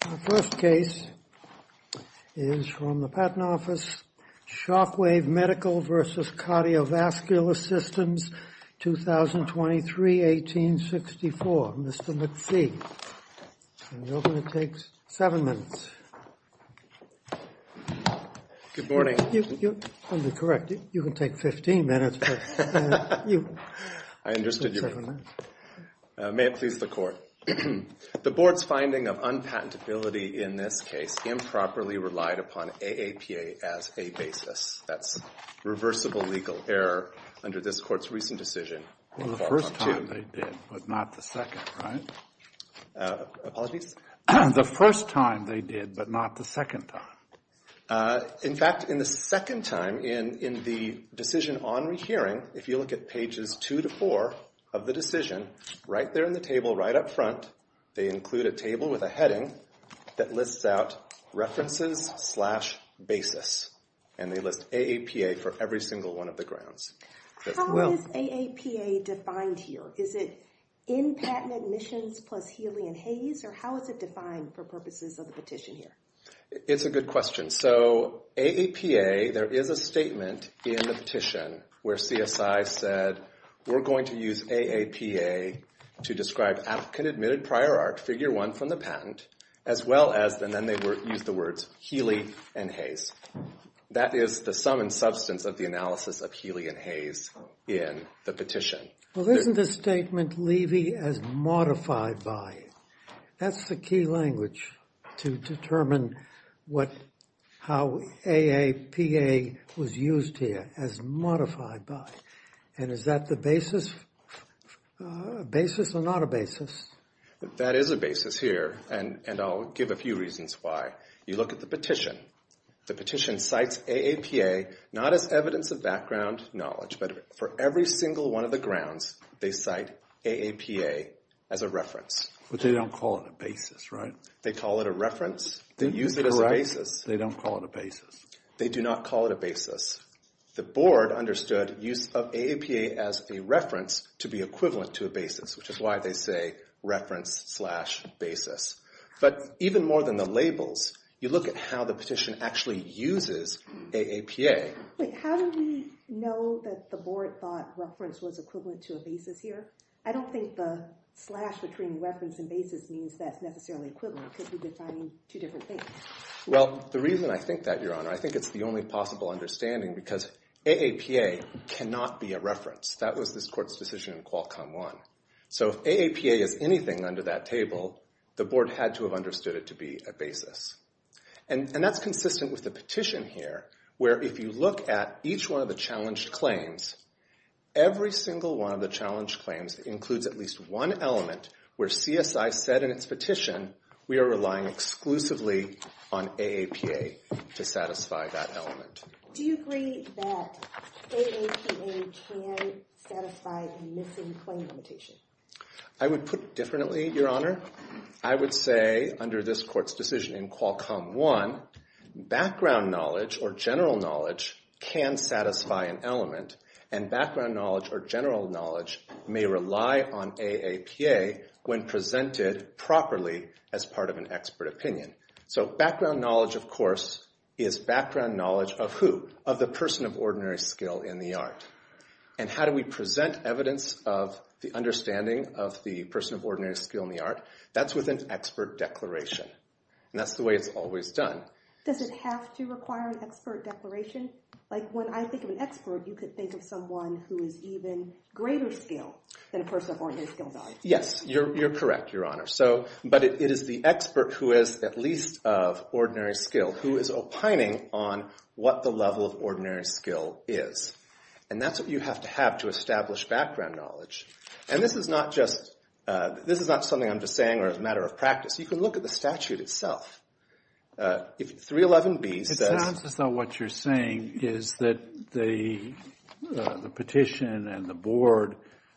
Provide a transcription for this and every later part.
The first case is from the Patent Office, Shockwave Medical v. Cardiovascular Systems, 2023-1864. Mr. McPhee. And you're going to take seven minutes. Good morning. I'm going to be correct. You can take 15 minutes. I understood you. Seven minutes. May it please the Court. The Board's finding of unpatentability in this case improperly relied upon AAPA as a basis. That's reversible legal error under this Court's recent decision. Well, the first time they did, but not the second, right? Apologies? The first time they did, but not the second time. In fact, in the second time, in the decision on rehearing, if you look at pages two to four of the decision, right there in the table, right up front, they include a table with a heading that lists out References slash Basis, and they list AAPA for every single one of the grounds. How is AAPA defined here? Is it in Patent Admissions plus Healy and Hayes, or how is it defined for purposes of the petition here? It's a good question. So, AAPA, there is a statement in the petition where CSI said, we're going to use AAPA to describe applicant-admitted prior art, figure one from the patent, as well as, and then they used the words, Healy and Hayes. That is the sum and substance of the analysis of Healy and Hayes in the petition. Well, isn't the statement levy as modified by it? That's the key language to determine how AAPA was used here, as modified by it, and is that the basis or not a basis? That is a basis here, and I'll give a few reasons why. You look at the petition. The petition cites AAPA not as evidence of background knowledge, but for every single one of the grounds, they cite AAPA as a reference. But they don't call it a basis, right? They call it a reference. They use it as a basis. They don't call it a basis. They do not call it a basis. The board understood use of AAPA as a reference to be equivalent to a basis, which is why they say reference slash basis. But even more than the labels, you look at how the petition actually uses AAPA. Wait, how do we know that the board thought reference was equivalent to a basis here? I don't think the slash between reference and basis means that's necessarily equivalent because we're defining two different things. Well, the reason I think that, Your Honor, I think it's the only possible understanding because AAPA cannot be a reference. That was this court's decision in Qualcomm 1. So if AAPA is anything under that table, the board had to have understood it to be a basis. And that's consistent with the petition here, where if you look at each one of the challenged claims, every single one of the challenged claims includes at least one element where CSI said in its petition we are relying exclusively on AAPA to satisfy that element. Do you agree that AAPA can satisfy the missing claim limitation? I would put it differently, Your Honor. I would say under this court's decision in Qualcomm 1, background knowledge or general knowledge can satisfy an element, and background knowledge or general knowledge may rely on AAPA when presented properly as part of an expert opinion. So background knowledge, of course, is background knowledge of who? Of the person of ordinary skill in the art. And how do we present evidence of the understanding of the person of ordinary skill in the art? That's with an expert declaration. And that's the way it's always done. Does it have to require an expert declaration? Like when I think of an expert, you could think of someone who is even greater skilled than a person of ordinary skill. Yes, you're correct, Your Honor. But it is the expert who is at least of ordinary skill who is opining on what the level of ordinary skill is. And that's what you have to have to establish background knowledge. And this is not something I'm just saying or as a matter of practice. You can look at the statute itself. 311B says- It sounds as though what you're saying is that the petition and the board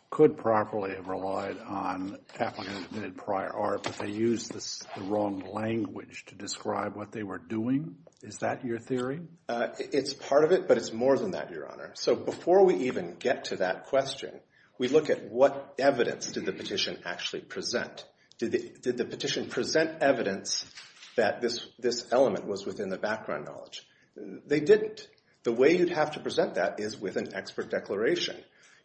could properly have relied on applicants who had prior art, but they used the wrong language to describe what they were doing. Is that your theory? It's part of it, but it's more than that, Your Honor. So before we even get to that question, we look at what evidence did the petition actually present. Did the petition present evidence that this element was within the background knowledge? They didn't. The way you'd have to present that is with an expert declaration.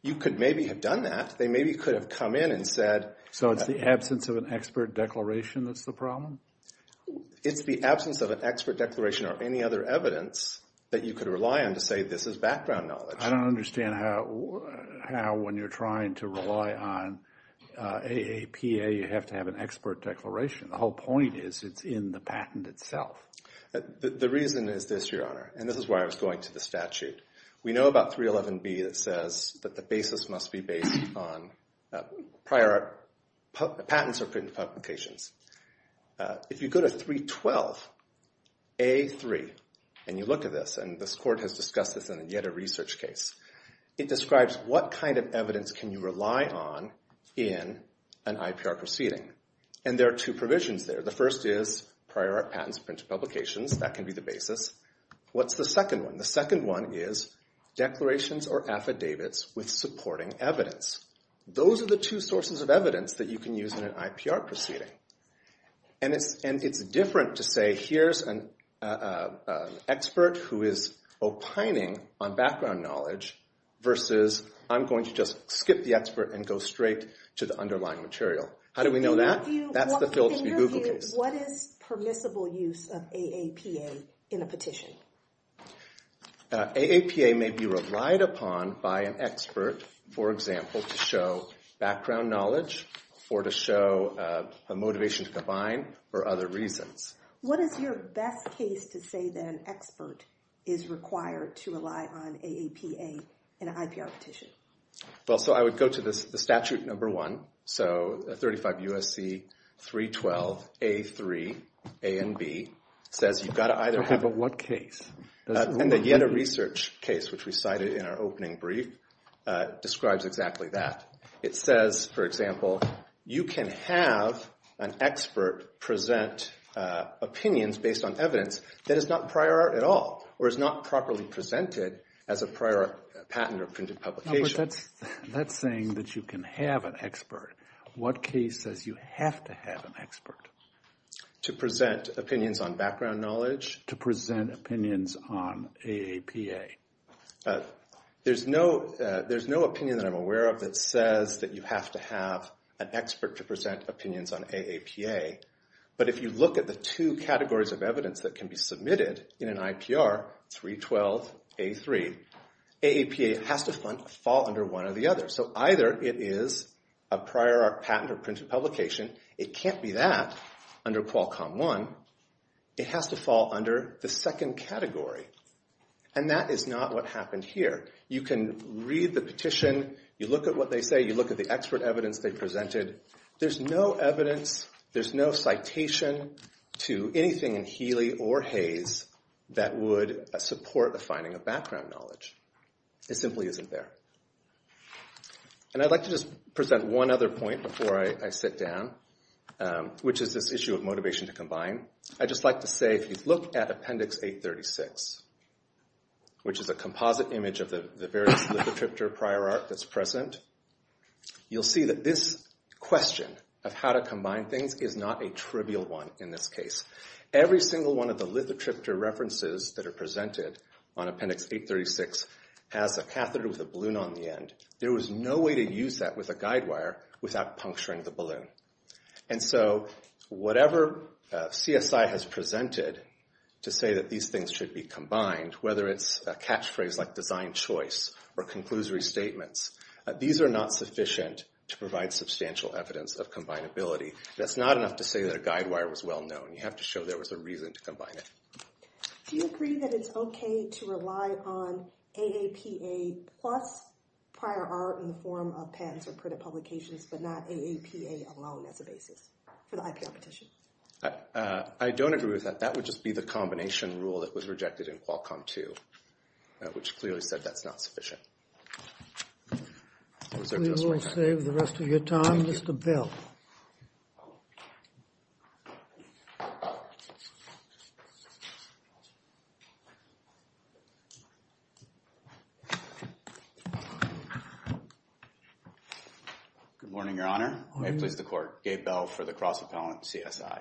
You could maybe have done that. They maybe could have come in and said- So it's the absence of an expert declaration that's the problem? It's the absence of an expert declaration or any other evidence that you could rely on to say this is background knowledge. I don't understand how when you're trying to rely on AAPA, you have to have an expert declaration. The whole point is it's in the patent itself. The reason is this, Your Honor, and this is why I was going to the statute. We know about 311B that says that the basis must be based on prior patents or patent publications. If you go to 312A3 and you look at this, and this court has discussed this in yet a research case, it describes what kind of evidence can you rely on in an IPR proceeding. And there are two provisions there. The first is prior patents, printed publications. That can be the basis. What's the second one? The second one is declarations or affidavits with supporting evidence. Those are the two sources of evidence that you can use in an IPR proceeding. And it's different to say here's an expert who is opining on background knowledge versus I'm going to just skip the expert and go straight to the underlying material. How do we know that? That's the Phillips v. Google case. In your view, what is permissible use of AAPA in a petition? AAPA may be relied upon by an expert, for example, to show background knowledge or to show a motivation to combine or other reasons. What is your best case to say that an expert is required to rely on AAPA in an IPR petition? Well, so I would go to the statute number one. So 35 U.S.C. 312A3, A and B, says you've got to either have a What case? And the Yetta Research case, which we cited in our opening brief, describes exactly that. It says, for example, you can have an expert present opinions based on evidence that is not prior art at all or is not properly presented as a prior art patent or printed publication. But that's saying that you can have an expert. What case says you have to have an expert? To present opinions on background knowledge. To present opinions on AAPA. There's no opinion that I'm aware of that says that you have to have an expert to present opinions on AAPA. But if you look at the two categories of evidence that can be submitted in an IPR, 312A3, AAPA has to fall under one or the other. So either it is a prior art patent or printed publication. It can't be that under Qualcomm 1. It has to fall under the second category. And that is not what happened here. You can read the petition. You look at what they say. You look at the expert evidence they presented. There's no evidence, there's no citation to anything in Healy or Hayes that would support the finding of background knowledge. It simply isn't there. And I'd like to just present one other point before I sit down, which is this issue of motivation to combine. I'd just like to say if you look at Appendix 836, which is a composite image of the various lithotriptor prior art that's present, you'll see that this question of how to combine things is not a trivial one in this case. Every single one of the lithotriptor references that are presented on Appendix 836 has a catheter with a balloon on the end. There was no way to use that with a guide wire without puncturing the balloon. And so whatever CSI has presented to say that these things should be combined, whether it's a catchphrase like design choice or conclusory statements, these are not sufficient to provide substantial evidence of combinability. That's not enough to say that a guide wire was well known. You have to show there was a reason to combine it. Do you agree that it's okay to rely on AAPA plus prior art in the form of pens or printed publications, but not AAPA alone as a basis for the IPR petition? I don't agree with that. That would just be the combination rule that was rejected in Qualcomm 2, which clearly said that's not sufficient. We will save the rest of your time, Mr. Bell. Good morning, Your Honor. May it please the Court. Gabe Bell for the Cross Appellant CSI.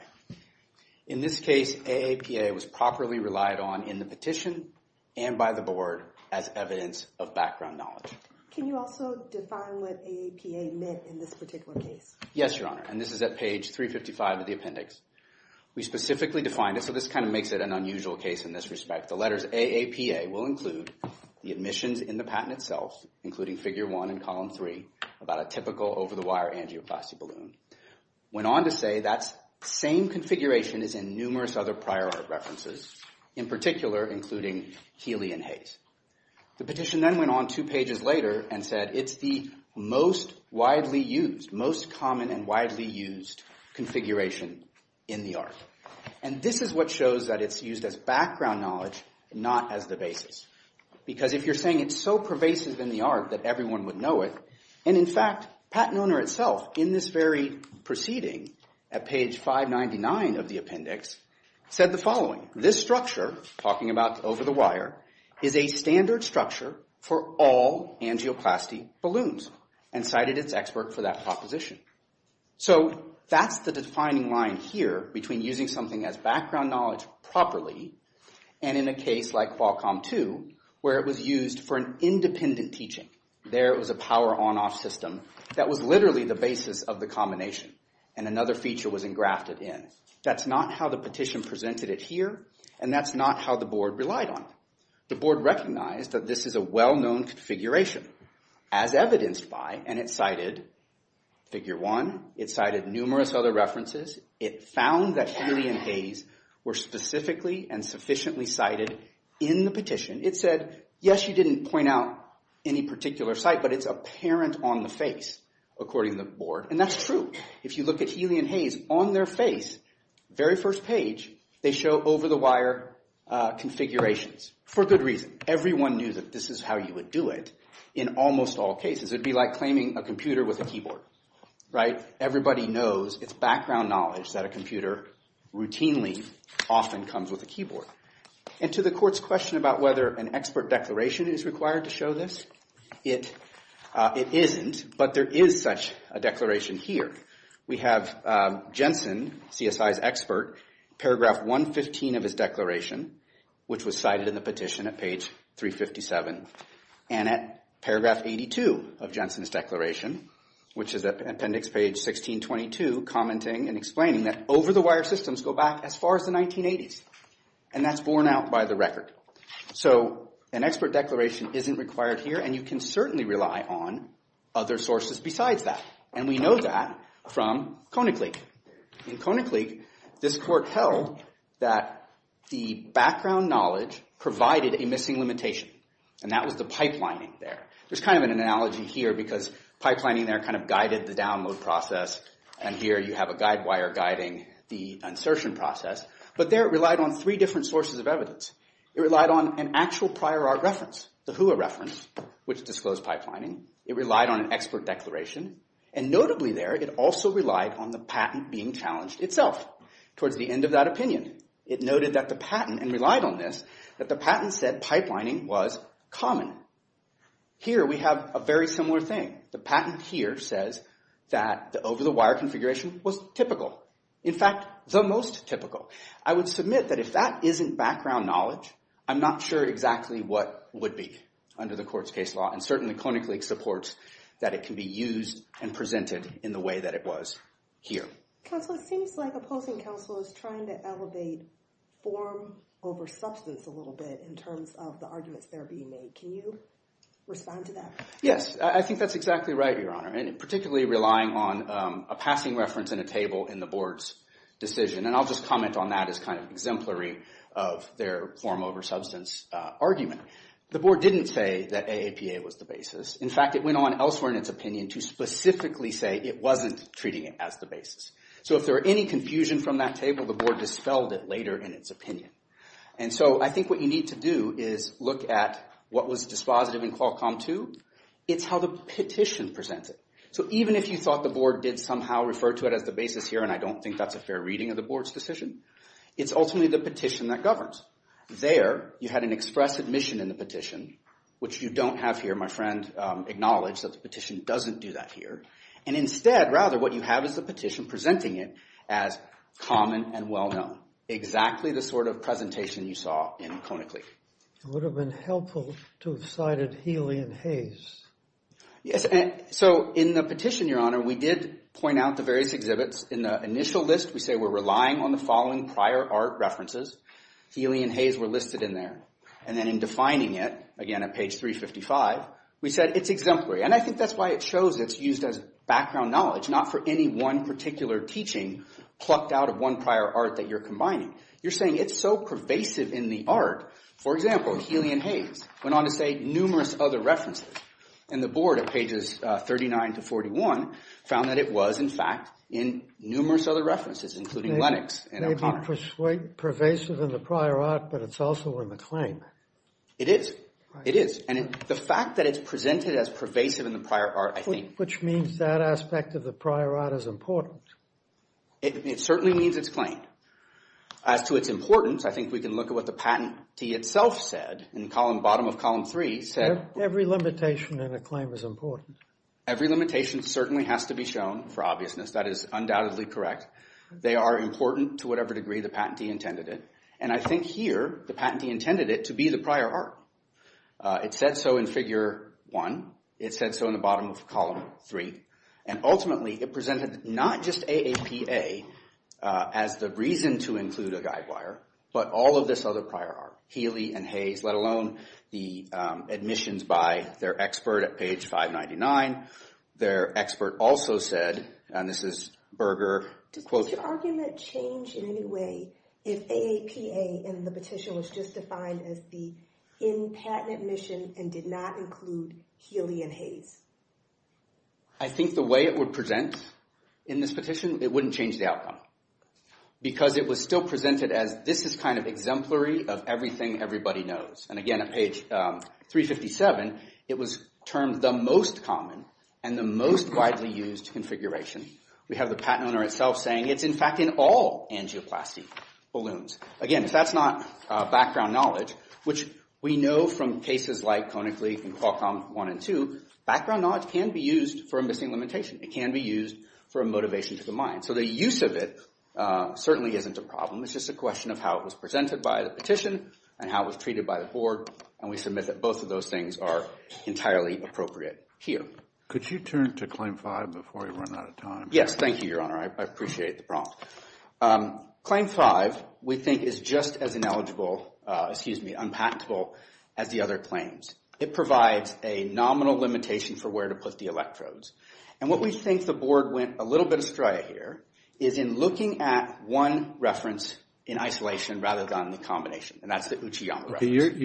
In this case, AAPA was properly relied on in the petition and by the Board as evidence of background knowledge. Can you also define what AAPA meant in this particular case? Yes, Your Honor, and this is at page 355 of the appendix. We specifically defined it, so this kind of makes it an unusual case in this respect. The letters AAPA will include the admissions in the patent itself, including figure 1 and column 3, about a typical over-the-wire angioplasty balloon. Went on to say that same configuration is in numerous other prior art references, in particular including Healy and Hayes. The petition then went on two pages later and said it's the most widely used, most common and widely used configuration in the art. And this is what shows that it's used as background knowledge, not as the basis. Because if you're saying it's so pervasive in the art that everyone would know it, and in fact, patent owner itself in this very proceeding at page 599 of the appendix, said the following, this structure, talking about over-the-wire, is a standard structure for all angioplasty balloons, and cited its expert for that proposition. So that's the defining line here between using something as background knowledge properly, and in a case like Qualcomm 2, where it was used for an independent teaching. There it was a power on-off system that was literally the basis of the combination, and another feature was engrafted in. That's not how the petition presented it here, and that's not how the board relied on it. The board recognized that this is a well-known configuration, as evidenced by, and it cited Figure 1, it cited numerous other references, it found that Healy and Hayes were specifically and sufficiently cited in the petition. It said, yes, you didn't point out any particular site, but it's apparent on the face, according to the board, and that's true. If you look at Healy and Hayes, on their face, very first page, they show over-the-wire configurations, for good reason. Everyone knew that this is how you would do it in almost all cases. It would be like claiming a computer with a keyboard, right? Everybody knows it's background knowledge that a computer routinely often comes with a keyboard. And to the court's question about whether an expert declaration is required to show this, it isn't, but there is such a declaration here. We have Jensen, CSI's expert, paragraph 115 of his declaration, which was cited in the petition at page 357, and at paragraph 82 of Jensen's declaration, which is at appendix page 1622, commenting and explaining that over-the-wire systems go back as far as the 1980s, and that's borne out by the record. So an expert declaration isn't required here, and you can certainly rely on other sources besides that, and we know that from Koenigsegg. In Koenigsegg, this court held that the background knowledge provided a missing limitation, and that was the pipelining there. There's kind of an analogy here because pipelining there kind of guided the download process, and here you have a guide wire guiding the insertion process, but there it relied on three different sources of evidence. It relied on an actual prior art reference, the HUA reference, which disclosed pipelining. It relied on an expert declaration, and notably there it also relied on the patent being challenged itself. Towards the end of that opinion, it noted that the patent, and relied on this, that the patent said pipelining was common. Here we have a very similar thing. The patent here says that the over-the-wire configuration was typical. In fact, the most typical. I would submit that if that isn't background knowledge, I'm not sure exactly what would be under the court's case law, and certainly Koenigsegg supports that it can be used and presented in the way that it was here. Counsel, it seems like opposing counsel is trying to elevate form over substance a little bit in terms of the arguments that are being made. Can you respond to that? Yes, I think that's exactly right, Your Honor, and particularly relying on a passing reference in a table in the board's decision. I'll just comment on that as kind of exemplary of their form over substance argument. The board didn't say that AAPA was the basis. In fact, it went on elsewhere in its opinion to specifically say it wasn't treating it as the basis. If there were any confusion from that table, the board dispelled it later in its opinion. I think what you need to do is look at what was dispositive in Qualcomm 2. It's how the petition presents it. So even if you thought the board did somehow refer to it as the basis here, and I don't think that's a fair reading of the board's decision, it's ultimately the petition that governs. There, you had an express admission in the petition, which you don't have here. My friend acknowledged that the petition doesn't do that here. And instead, rather, what you have is the petition presenting it as common and well-known, exactly the sort of presentation you saw in Koenigsegg. It would have been helpful to have cited Healy and Hayes. Yes, so in the petition, Your Honor, we did point out the various exhibits. In the initial list, we say we're relying on the following prior art references. Healy and Hayes were listed in there. And then in defining it, again, at page 355, we said it's exemplary. And I think that's why it shows it's used as background knowledge, not for any one particular teaching plucked out of one prior art that you're combining. You're saying it's so pervasive in the art. For example, Healy and Hayes went on to say numerous other references. And the board at pages 39 to 41 found that it was, in fact, in numerous other references, including Lennox and O'Connor. It may be pervasive in the prior art, but it's also in the claim. It is. It is. And the fact that it's presented as pervasive in the prior art, I think. Which means that aspect of the prior art is important. It certainly means it's claimed. As to its importance, I think we can look at what the patentee itself said in the bottom of column three. Every limitation in a claim is important. Every limitation certainly has to be shown for obviousness. That is undoubtedly correct. They are important to whatever degree the patentee intended it. And I think here, the patentee intended it to be the prior art. It said so in figure one. It said so in the bottom of column three. And ultimately, it presented not just AAPA as the reason to include a guidewire, but all of this other prior art. Healy and Hayes, let alone the admissions by their expert at page 599. Their expert also said, and this is Berger. Does your argument change in any way if AAPA in the petition was just defined as the in-patent admission and did not include Healy and Hayes? I think the way it would present in this petition, it wouldn't change the outcome. Because it was still presented as this is kind of exemplary of everything everybody knows. And again, at page 357, it was termed the most common and the most widely used configuration. We have the patent owner itself saying it's, in fact, in all angioplasty balloons. Again, if that's not background knowledge, which we know from cases like Conic Leaf and Qualcomm 1 and 2, background knowledge can be used for a missing limitation. It can be used for a motivation to the mind. So the use of it certainly isn't a problem. It's just a question of how it was presented by the petition and how it was treated by the board. And we submit that both of those things are entirely appropriate here. Could you turn to claim five before we run out of time? Yes, thank you, Your Honor. I appreciate the prompt. Claim five we think is just as ineligible, excuse me, unpatentable as the other claims. It provides a nominal limitation for where to put the electrodes. And what we think the board went a little bit astray here is in looking at one reference in isolation rather than the combination, and that's the Uchiyama reference.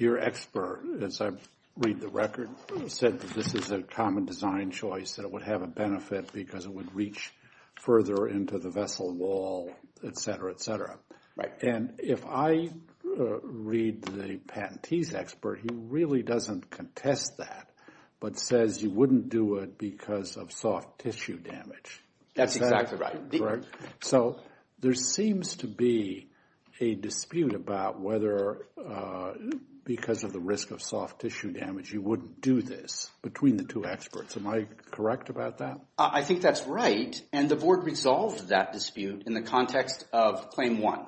Your expert, as I read the record, said that this is a common design choice that it would have a benefit because it would reach further into the vessel wall, et cetera, et cetera. Right. And if I read the patentee's expert, he really doesn't contest that but says you wouldn't do it because of soft tissue damage. That's exactly right. So there seems to be a dispute about whether because of the risk of soft tissue damage you wouldn't do this between the two experts. Am I correct about that? I think that's right. And the board resolved that dispute in the context of claim one.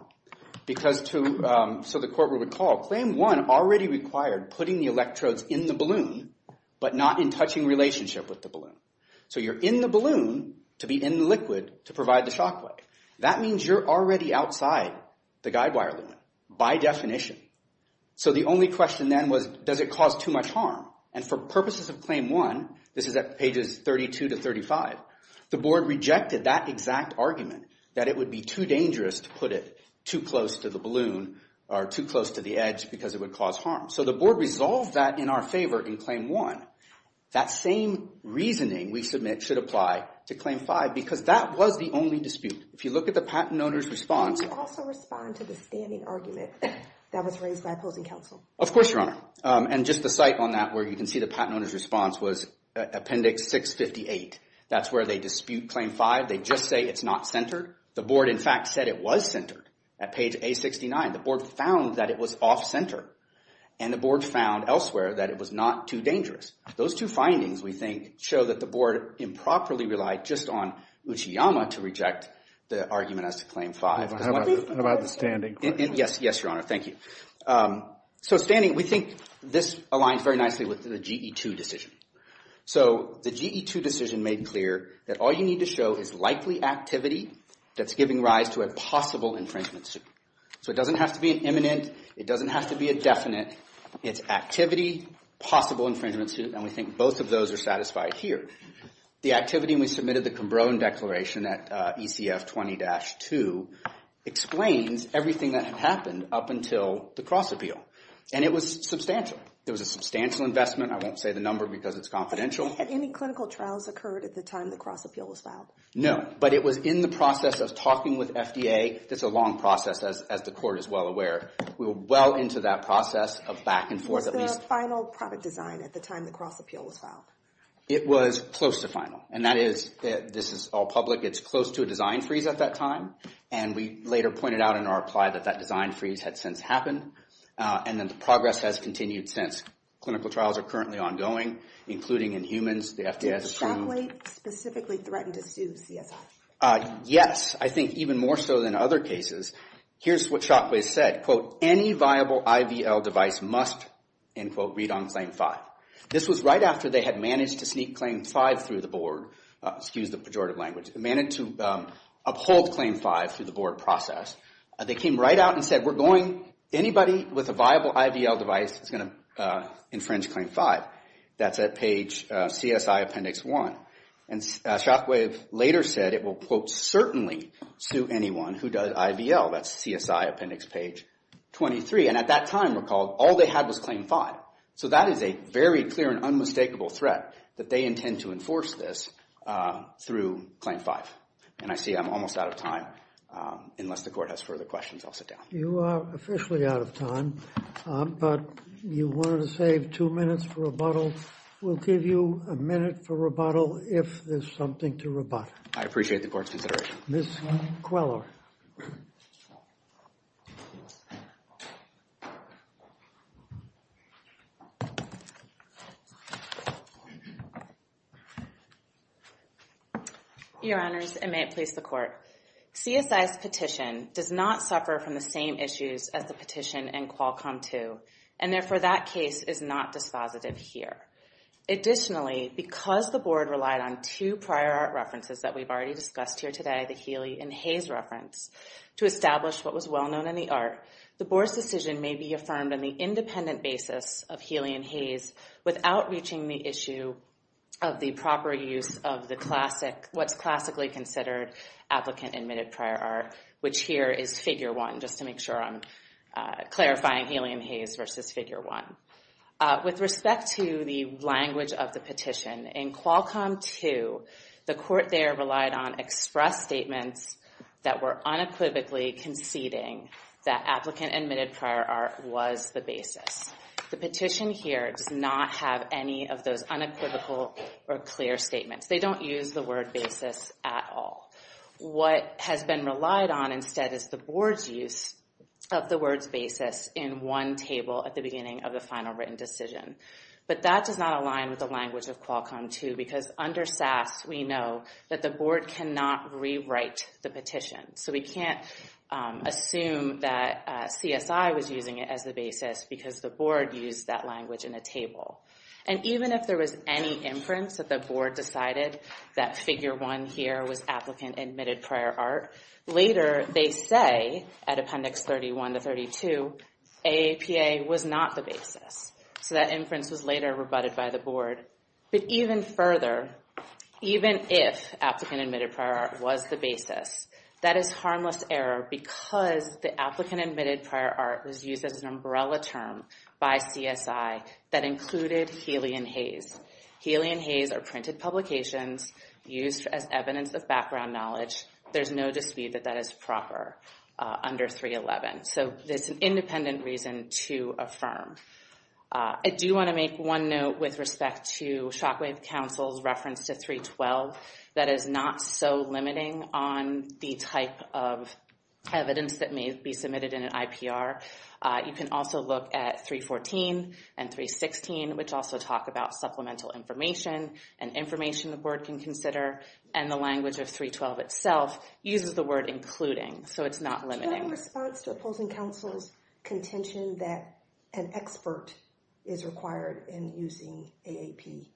So the court would recall claim one already required putting the electrodes in the balloon but not in touching relationship with the balloon. So you're in the balloon to be in the liquid to provide the shock wave. That means you're already outside the guidewire limit by definition. So the only question then was does it cause too much harm? And for purposes of claim one, this is at pages 32 to 35, the board rejected that exact argument that it would be too dangerous to put it too close to the balloon or too close to the edge because it would cause harm. So the board resolved that in our favor in claim one. That same reasoning we submit should apply to claim five because that was the only dispute. If you look at the patent owner's response. Can you also respond to the standing argument that was raised by opposing counsel? Of course, Your Honor. And just the site on that where you can see the patent owner's response was appendix 658. That's where they dispute claim five. They just say it's not centered. The board, in fact, said it was centered at page A69. The board found that it was off-center, and the board found elsewhere that it was not too dangerous. Those two findings, we think, show that the board improperly relied just on Uchiyama to reject the argument as to claim five. How about the standing? Yes, Your Honor. Thank you. So standing, we think this aligns very nicely with the GE2 decision. So the GE2 decision made clear that all you need to show is likely activity that's giving rise to a possible infringement suit. So it doesn't have to be an imminent. It doesn't have to be a definite. It's activity, possible infringement suit, and we think both of those are satisfied here. The activity when we submitted the Combrone Declaration at ECF 20-2 explains everything that had happened up until the cross-appeal, and it was substantial. It was a substantial investment. I won't say the number because it's confidential. Had any clinical trials occurred at the time the cross-appeal was filed? No, but it was in the process of talking with FDA. It's a long process, as the court is well aware. We were well into that process of back and forth. Was there a final product design at the time the cross-appeal was filed? It was close to final, and that is, this is all public, it's close to a design freeze at that time, and we later pointed out in our reply that that design freeze had since happened, and that the progress has continued since. Clinical trials are currently ongoing, including in humans. Did Shockway specifically threaten to sue CSI? Yes, I think even more so than other cases. Here's what Shockway said. Quote, any viable IVL device must, end quote, read on Claim 5. This was right after they had managed to sneak Claim 5 through the board, excuse the pejorative language, managed to uphold Claim 5 through the board process. They came right out and said, we're going, anybody with a viable IVL device is going to infringe Claim 5. That's at page CSI Appendix 1. And Shockway later said it will, quote, certainly sue anyone who does IVL. That's CSI Appendix Page 23. And at that time, recall, all they had was Claim 5. So that is a very clear and unmistakable threat that they intend to enforce this through Claim 5. And I see I'm almost out of time. Unless the court has further questions, I'll sit down. You are officially out of time, but you wanted to save two minutes for rebuttal. We'll give you a minute for rebuttal if there's something to rebut. I appreciate the court's consideration. Ms. Queller. Your Honors, and may it please the court. CSI's petition does not suffer from the same issues as the petition in Qualcomm 2, and therefore that case is not dispositive here. Additionally, because the board relied on two prior art references that we've already discussed here today, the Healy and Hayes reference, to establish what was well known in the art, the board's decision may be affirmed on the independent basis of Healy and Hayes without reaching the issue of the proper use of what's classically considered applicant-admitted prior art, which here is Figure 1, just to make sure I'm clarifying Healy and Hayes versus Figure 1. With respect to the language of the petition, in Qualcomm 2, the court there relied on express statements that were unequivocally conceding that applicant-admitted prior art was the basis. The petition here does not have any of those unequivocal or clear statements. They don't use the word basis at all. What has been relied on instead is the board's use of the words basis in one table at the beginning of the final written decision. But that does not align with the language of Qualcomm 2, because under SAS we know that the board cannot rewrite the petition. So we can't assume that CSI was using it as the basis because the board used that language in a table. And even if there was any inference that the board decided that Figure 1 here was applicant-admitted prior art, later they say, at Appendix 31 to 32, AAPA was not the basis. So that inference was later rebutted by the board. But even further, even if applicant-admitted prior art was the basis, that is harmless error because the applicant-admitted prior art was used as an umbrella term by CSI that included Healy and Hayes. Healy and Hayes are printed publications used as evidence of background knowledge. There's no dispute that that is proper under 311. So there's an independent reason to affirm. I do want to make one note with respect to Shockwave Council's reference to 312 that is not so limiting on the type of evidence that may be submitted in an IPR. You can also look at 314 and 316, which also talk about supplemental information and information the board can consider. And the language of 312 itself uses the word including, so it's not limiting. In response to opposing counsel's contention that an expert is required in using AAPA?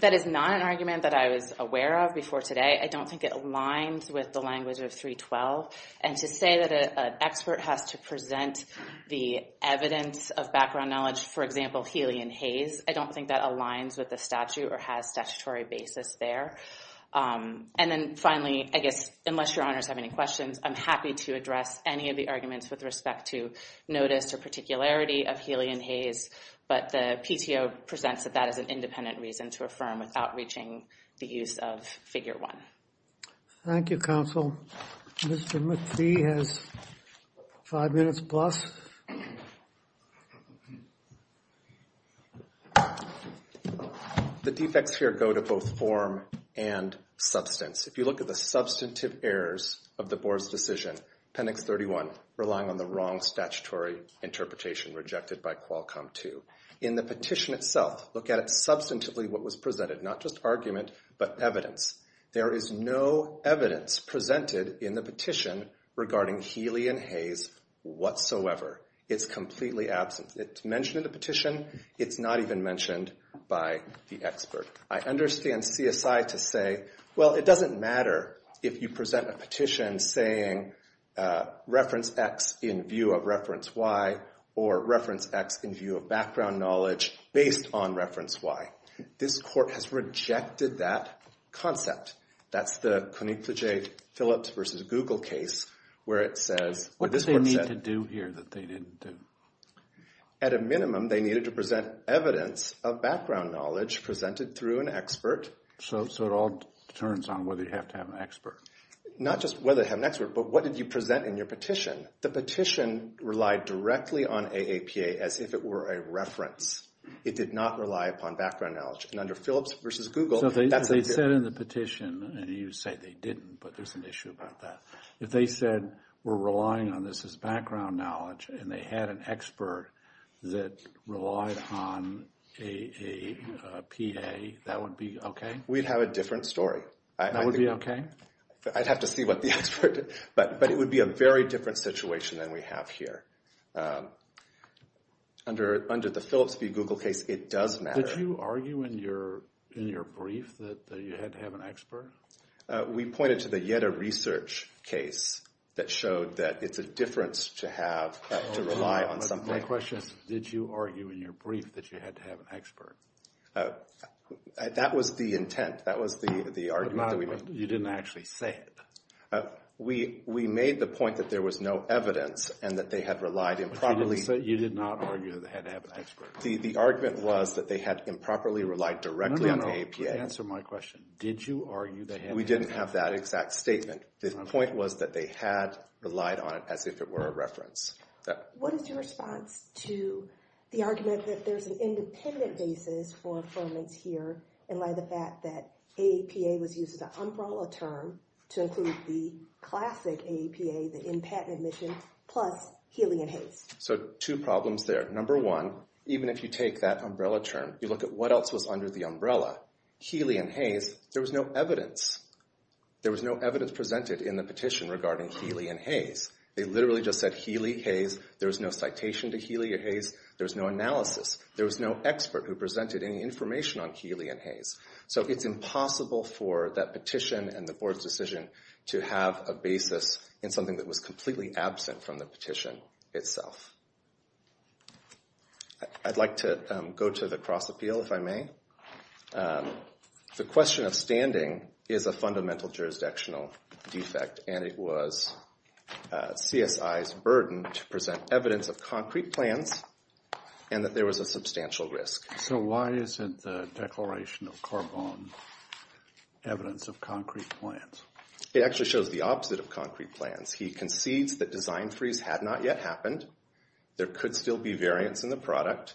That is not an argument that I was aware of before today. I don't think it aligns with the language of 312. And to say that an expert has to present the evidence of background knowledge, for example, Healy and Hayes, I don't think that aligns with the statute or has statutory basis there. And then finally, I guess, unless your honors have any questions, I'm happy to address any of the arguments with respect to notice or particularity of Healy and Hayes. But the PTO presents that that is an independent reason to affirm without reaching the use of Figure 1. Thank you, counsel. Mr. McPhee has five minutes plus. The defects here go to both form and substance. If you look at the substantive errors of the board's decision, Appendix 31, relying on the wrong statutory interpretation rejected by Qualcomm 2. In the petition itself, look at it substantively what was presented, not just argument but evidence. There is no evidence presented in the petition regarding Healy and Hayes whatsoever. It's completely absent. It's mentioned in the petition. It's not even mentioned by the expert. I understand CSI to say, well, it doesn't matter if you present a petition saying reference X in view of reference Y or reference X in view of background knowledge based on reference Y. This court has rejected that concept. That's the Konietzsche-Phillips v. Google case where it says, What did they need to do here that they didn't do? At a minimum, they needed to present evidence of background knowledge presented through an expert. So it all turns on whether you have to have an expert. Not just whether to have an expert, but what did you present in your petition? The petition relied directly on AAPA as if it were a reference. It did not rely upon background knowledge. And under Phillips v. Google, that's what it did. So they said in the petition, and you say they didn't, but there's an issue about that. If they said we're relying on this as background knowledge and they had an expert that relied on AAPA, that would be okay? We'd have a different story. That would be okay? I'd have to see what the expert did. But it would be a very different situation than we have here. Under the Phillips v. Google case, it does matter. Did you argue in your brief that you had to have an expert? We pointed to the Yetta research case that showed that it's a difference to have to rely on something. My question is, did you argue in your brief that you had to have an expert? That was the intent. That was the argument that we made. But you didn't actually say it. We made the point that there was no evidence and that they had relied improperly. But you did not argue that they had to have an expert. The argument was that they had improperly relied directly on AAPA. No, no, no. Answer my question. Did you argue that they had to have an expert? We didn't have that exact statement. The point was that they had relied on it as if it were a reference. What is your response to the argument that there's an independent basis for affirmance here and by the fact that AAPA was used as an umbrella term to include the classic AAPA, the in-patent admission, plus Healy and Hayes? So two problems there. Number one, even if you take that umbrella term, you look at what else was under the umbrella. Healy and Hayes, there was no evidence. There was no evidence presented in the petition regarding Healy and Hayes. They literally just said Healy, Hayes. There was no citation to Healy or Hayes. There was no analysis. There was no expert who presented any information on Healy and Hayes. So it's impossible for that petition and the board's decision to have a basis in something that was completely absent from the petition itself. I'd like to go to the cross-appeal, if I may. The question of standing is a fundamental jurisdictional defect, and it was CSI's burden to present evidence of concrete plans and that there was a substantial risk. So why isn't the declaration of Corbonne evidence of concrete plans? It actually shows the opposite of concrete plans. He concedes that design freeze had not yet happened. There could still be variance in the product.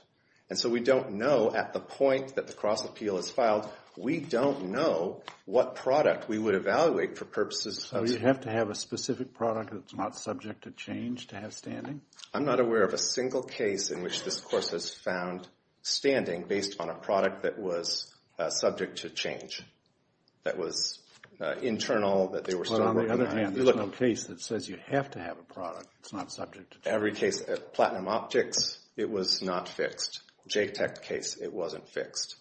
And so we don't know at the point that the cross-appeal is filed, we don't know what product we would evaluate for purposes of— So you have to have a specific product that's not subject to change to have standing? I'm not aware of a single case in which this course has found standing based on a product that was subject to change, that was internal, that they were still working on. Well, on the other hand, you're looking at a case that says you have to have a product that's not subject to change. Every case. Platinum Optics, it was not fixed. JTEC case, it wasn't fixed.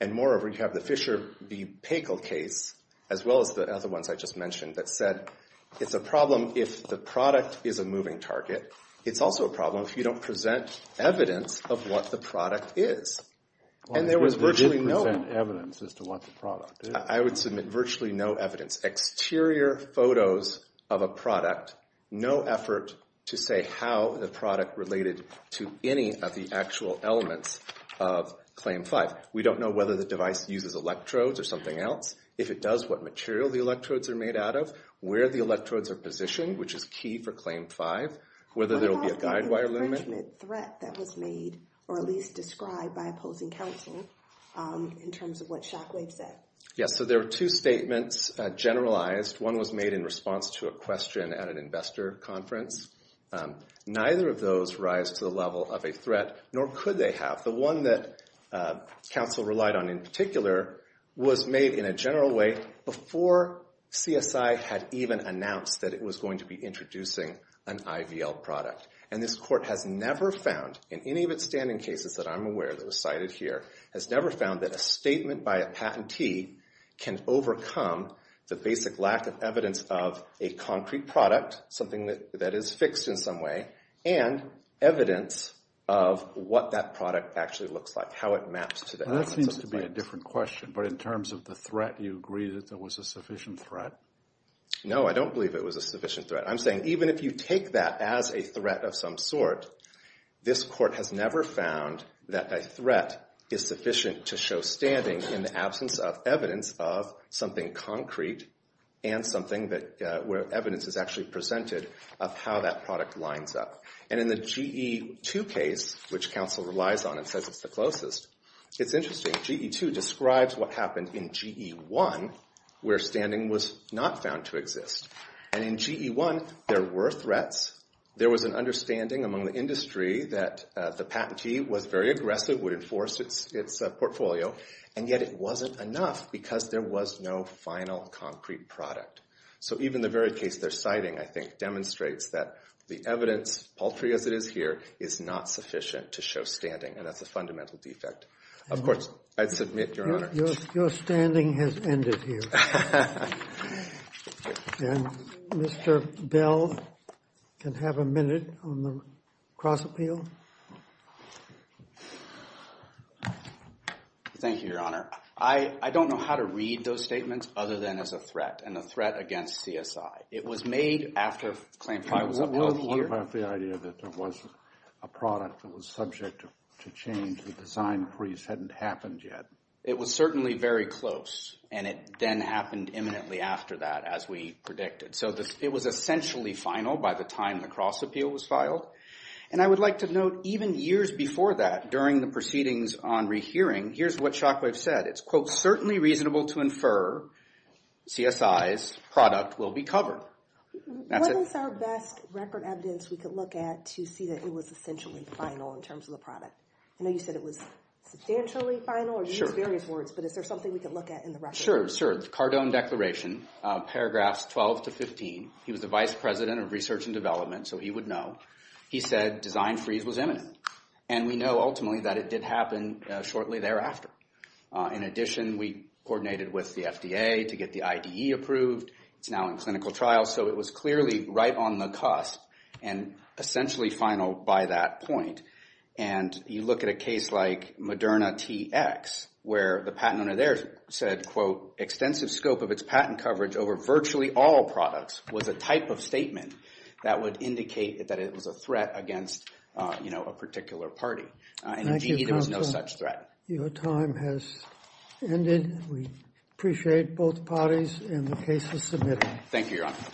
And moreover, you have the Fisher v. Pagel case, as well as the other ones I just mentioned, that said, It's a problem if the product is a moving target. It's also a problem if you don't present evidence of what the product is. And there was virtually no— You didn't present evidence as to what the product is. I would submit virtually no evidence. Exterior photos of a product, no effort to say how the product related to any of the actual elements of Claim 5. We don't know whether the device uses electrodes or something else. If it does, what material the electrodes are made out of, where the electrodes are positioned, which is key for Claim 5, whether there will be a guide wire lumen. What about the infringement threat that was made or at least described by opposing counsel in terms of what Shockwave said? Yeah, so there were two statements generalized. One was made in response to a question at an investor conference. Neither of those rise to the level of a threat, nor could they have. The one that counsel relied on in particular was made in a general way before CSI had even announced that it was going to be introducing an IVL product. And this Court has never found, in any of its standing cases that I'm aware of that were cited here, has never found that a statement by a patentee can overcome the basic lack of evidence of a concrete product, something that is fixed in some way, and evidence of what that product actually looks like, how it maps to the elements of the product. That seems to be a different question, but in terms of the threat, you agree that there was a sufficient threat? No, I don't believe it was a sufficient threat. I'm saying even if you take that as a threat of some sort, this Court has never found that a threat is sufficient to show standing in the absence of evidence of something concrete and something where evidence is actually presented of how that product lines up. And in the GE2 case, which counsel relies on and says it's the closest, it's interesting. GE2 describes what happened in GE1 where standing was not found to exist. And in GE1, there were threats. There was an understanding among the industry that the patentee was very aggressive, would enforce its portfolio. And yet it wasn't enough because there was no final concrete product. So even the very case they're citing, I think, demonstrates that the evidence, paltry as it is here, is not sufficient to show standing. And that's a fundamental defect. Of course, I'd submit, Your Honor. Your standing has ended here. And Mr. Bell can have a minute on the cross-appeal. Thank you, Your Honor. I don't know how to read those statements other than as a threat and a threat against CSI. It was made after Claim 5 was upheld here. You're talking about the idea that there was a product that was subject to change. The design freeze hadn't happened yet. It was certainly very close. And it then happened imminently after that, as we predicted. So it was essentially final by the time the cross-appeal was filed. And I would like to note, even years before that, during the proceedings on rehearing, here's what Shockwave said. It's, quote, certainly reasonable to infer CSI's product will be covered. So what is our best record evidence we could look at to see that it was essentially final in terms of the product? I know you said it was substantially final, or you used various words. But is there something we could look at in the record? Sure, sure. Cardone Declaration, paragraphs 12 to 15. He was the vice president of research and development, so he would know. He said design freeze was imminent. And we know, ultimately, that it did happen shortly thereafter. In addition, we coordinated with the FDA to get the IDE approved. It's now in clinical trial. So it was clearly right on the cusp and essentially final by that point. And you look at a case like Moderna TX, where the patent owner there said, quote, extensive scope of its patent coverage over virtually all products was a type of statement that would indicate that it was a threat against, you know, a particular party. And, indeed, there was no such threat. Your time has ended. We appreciate both parties and the cases submitted. Thank you, Your Honor.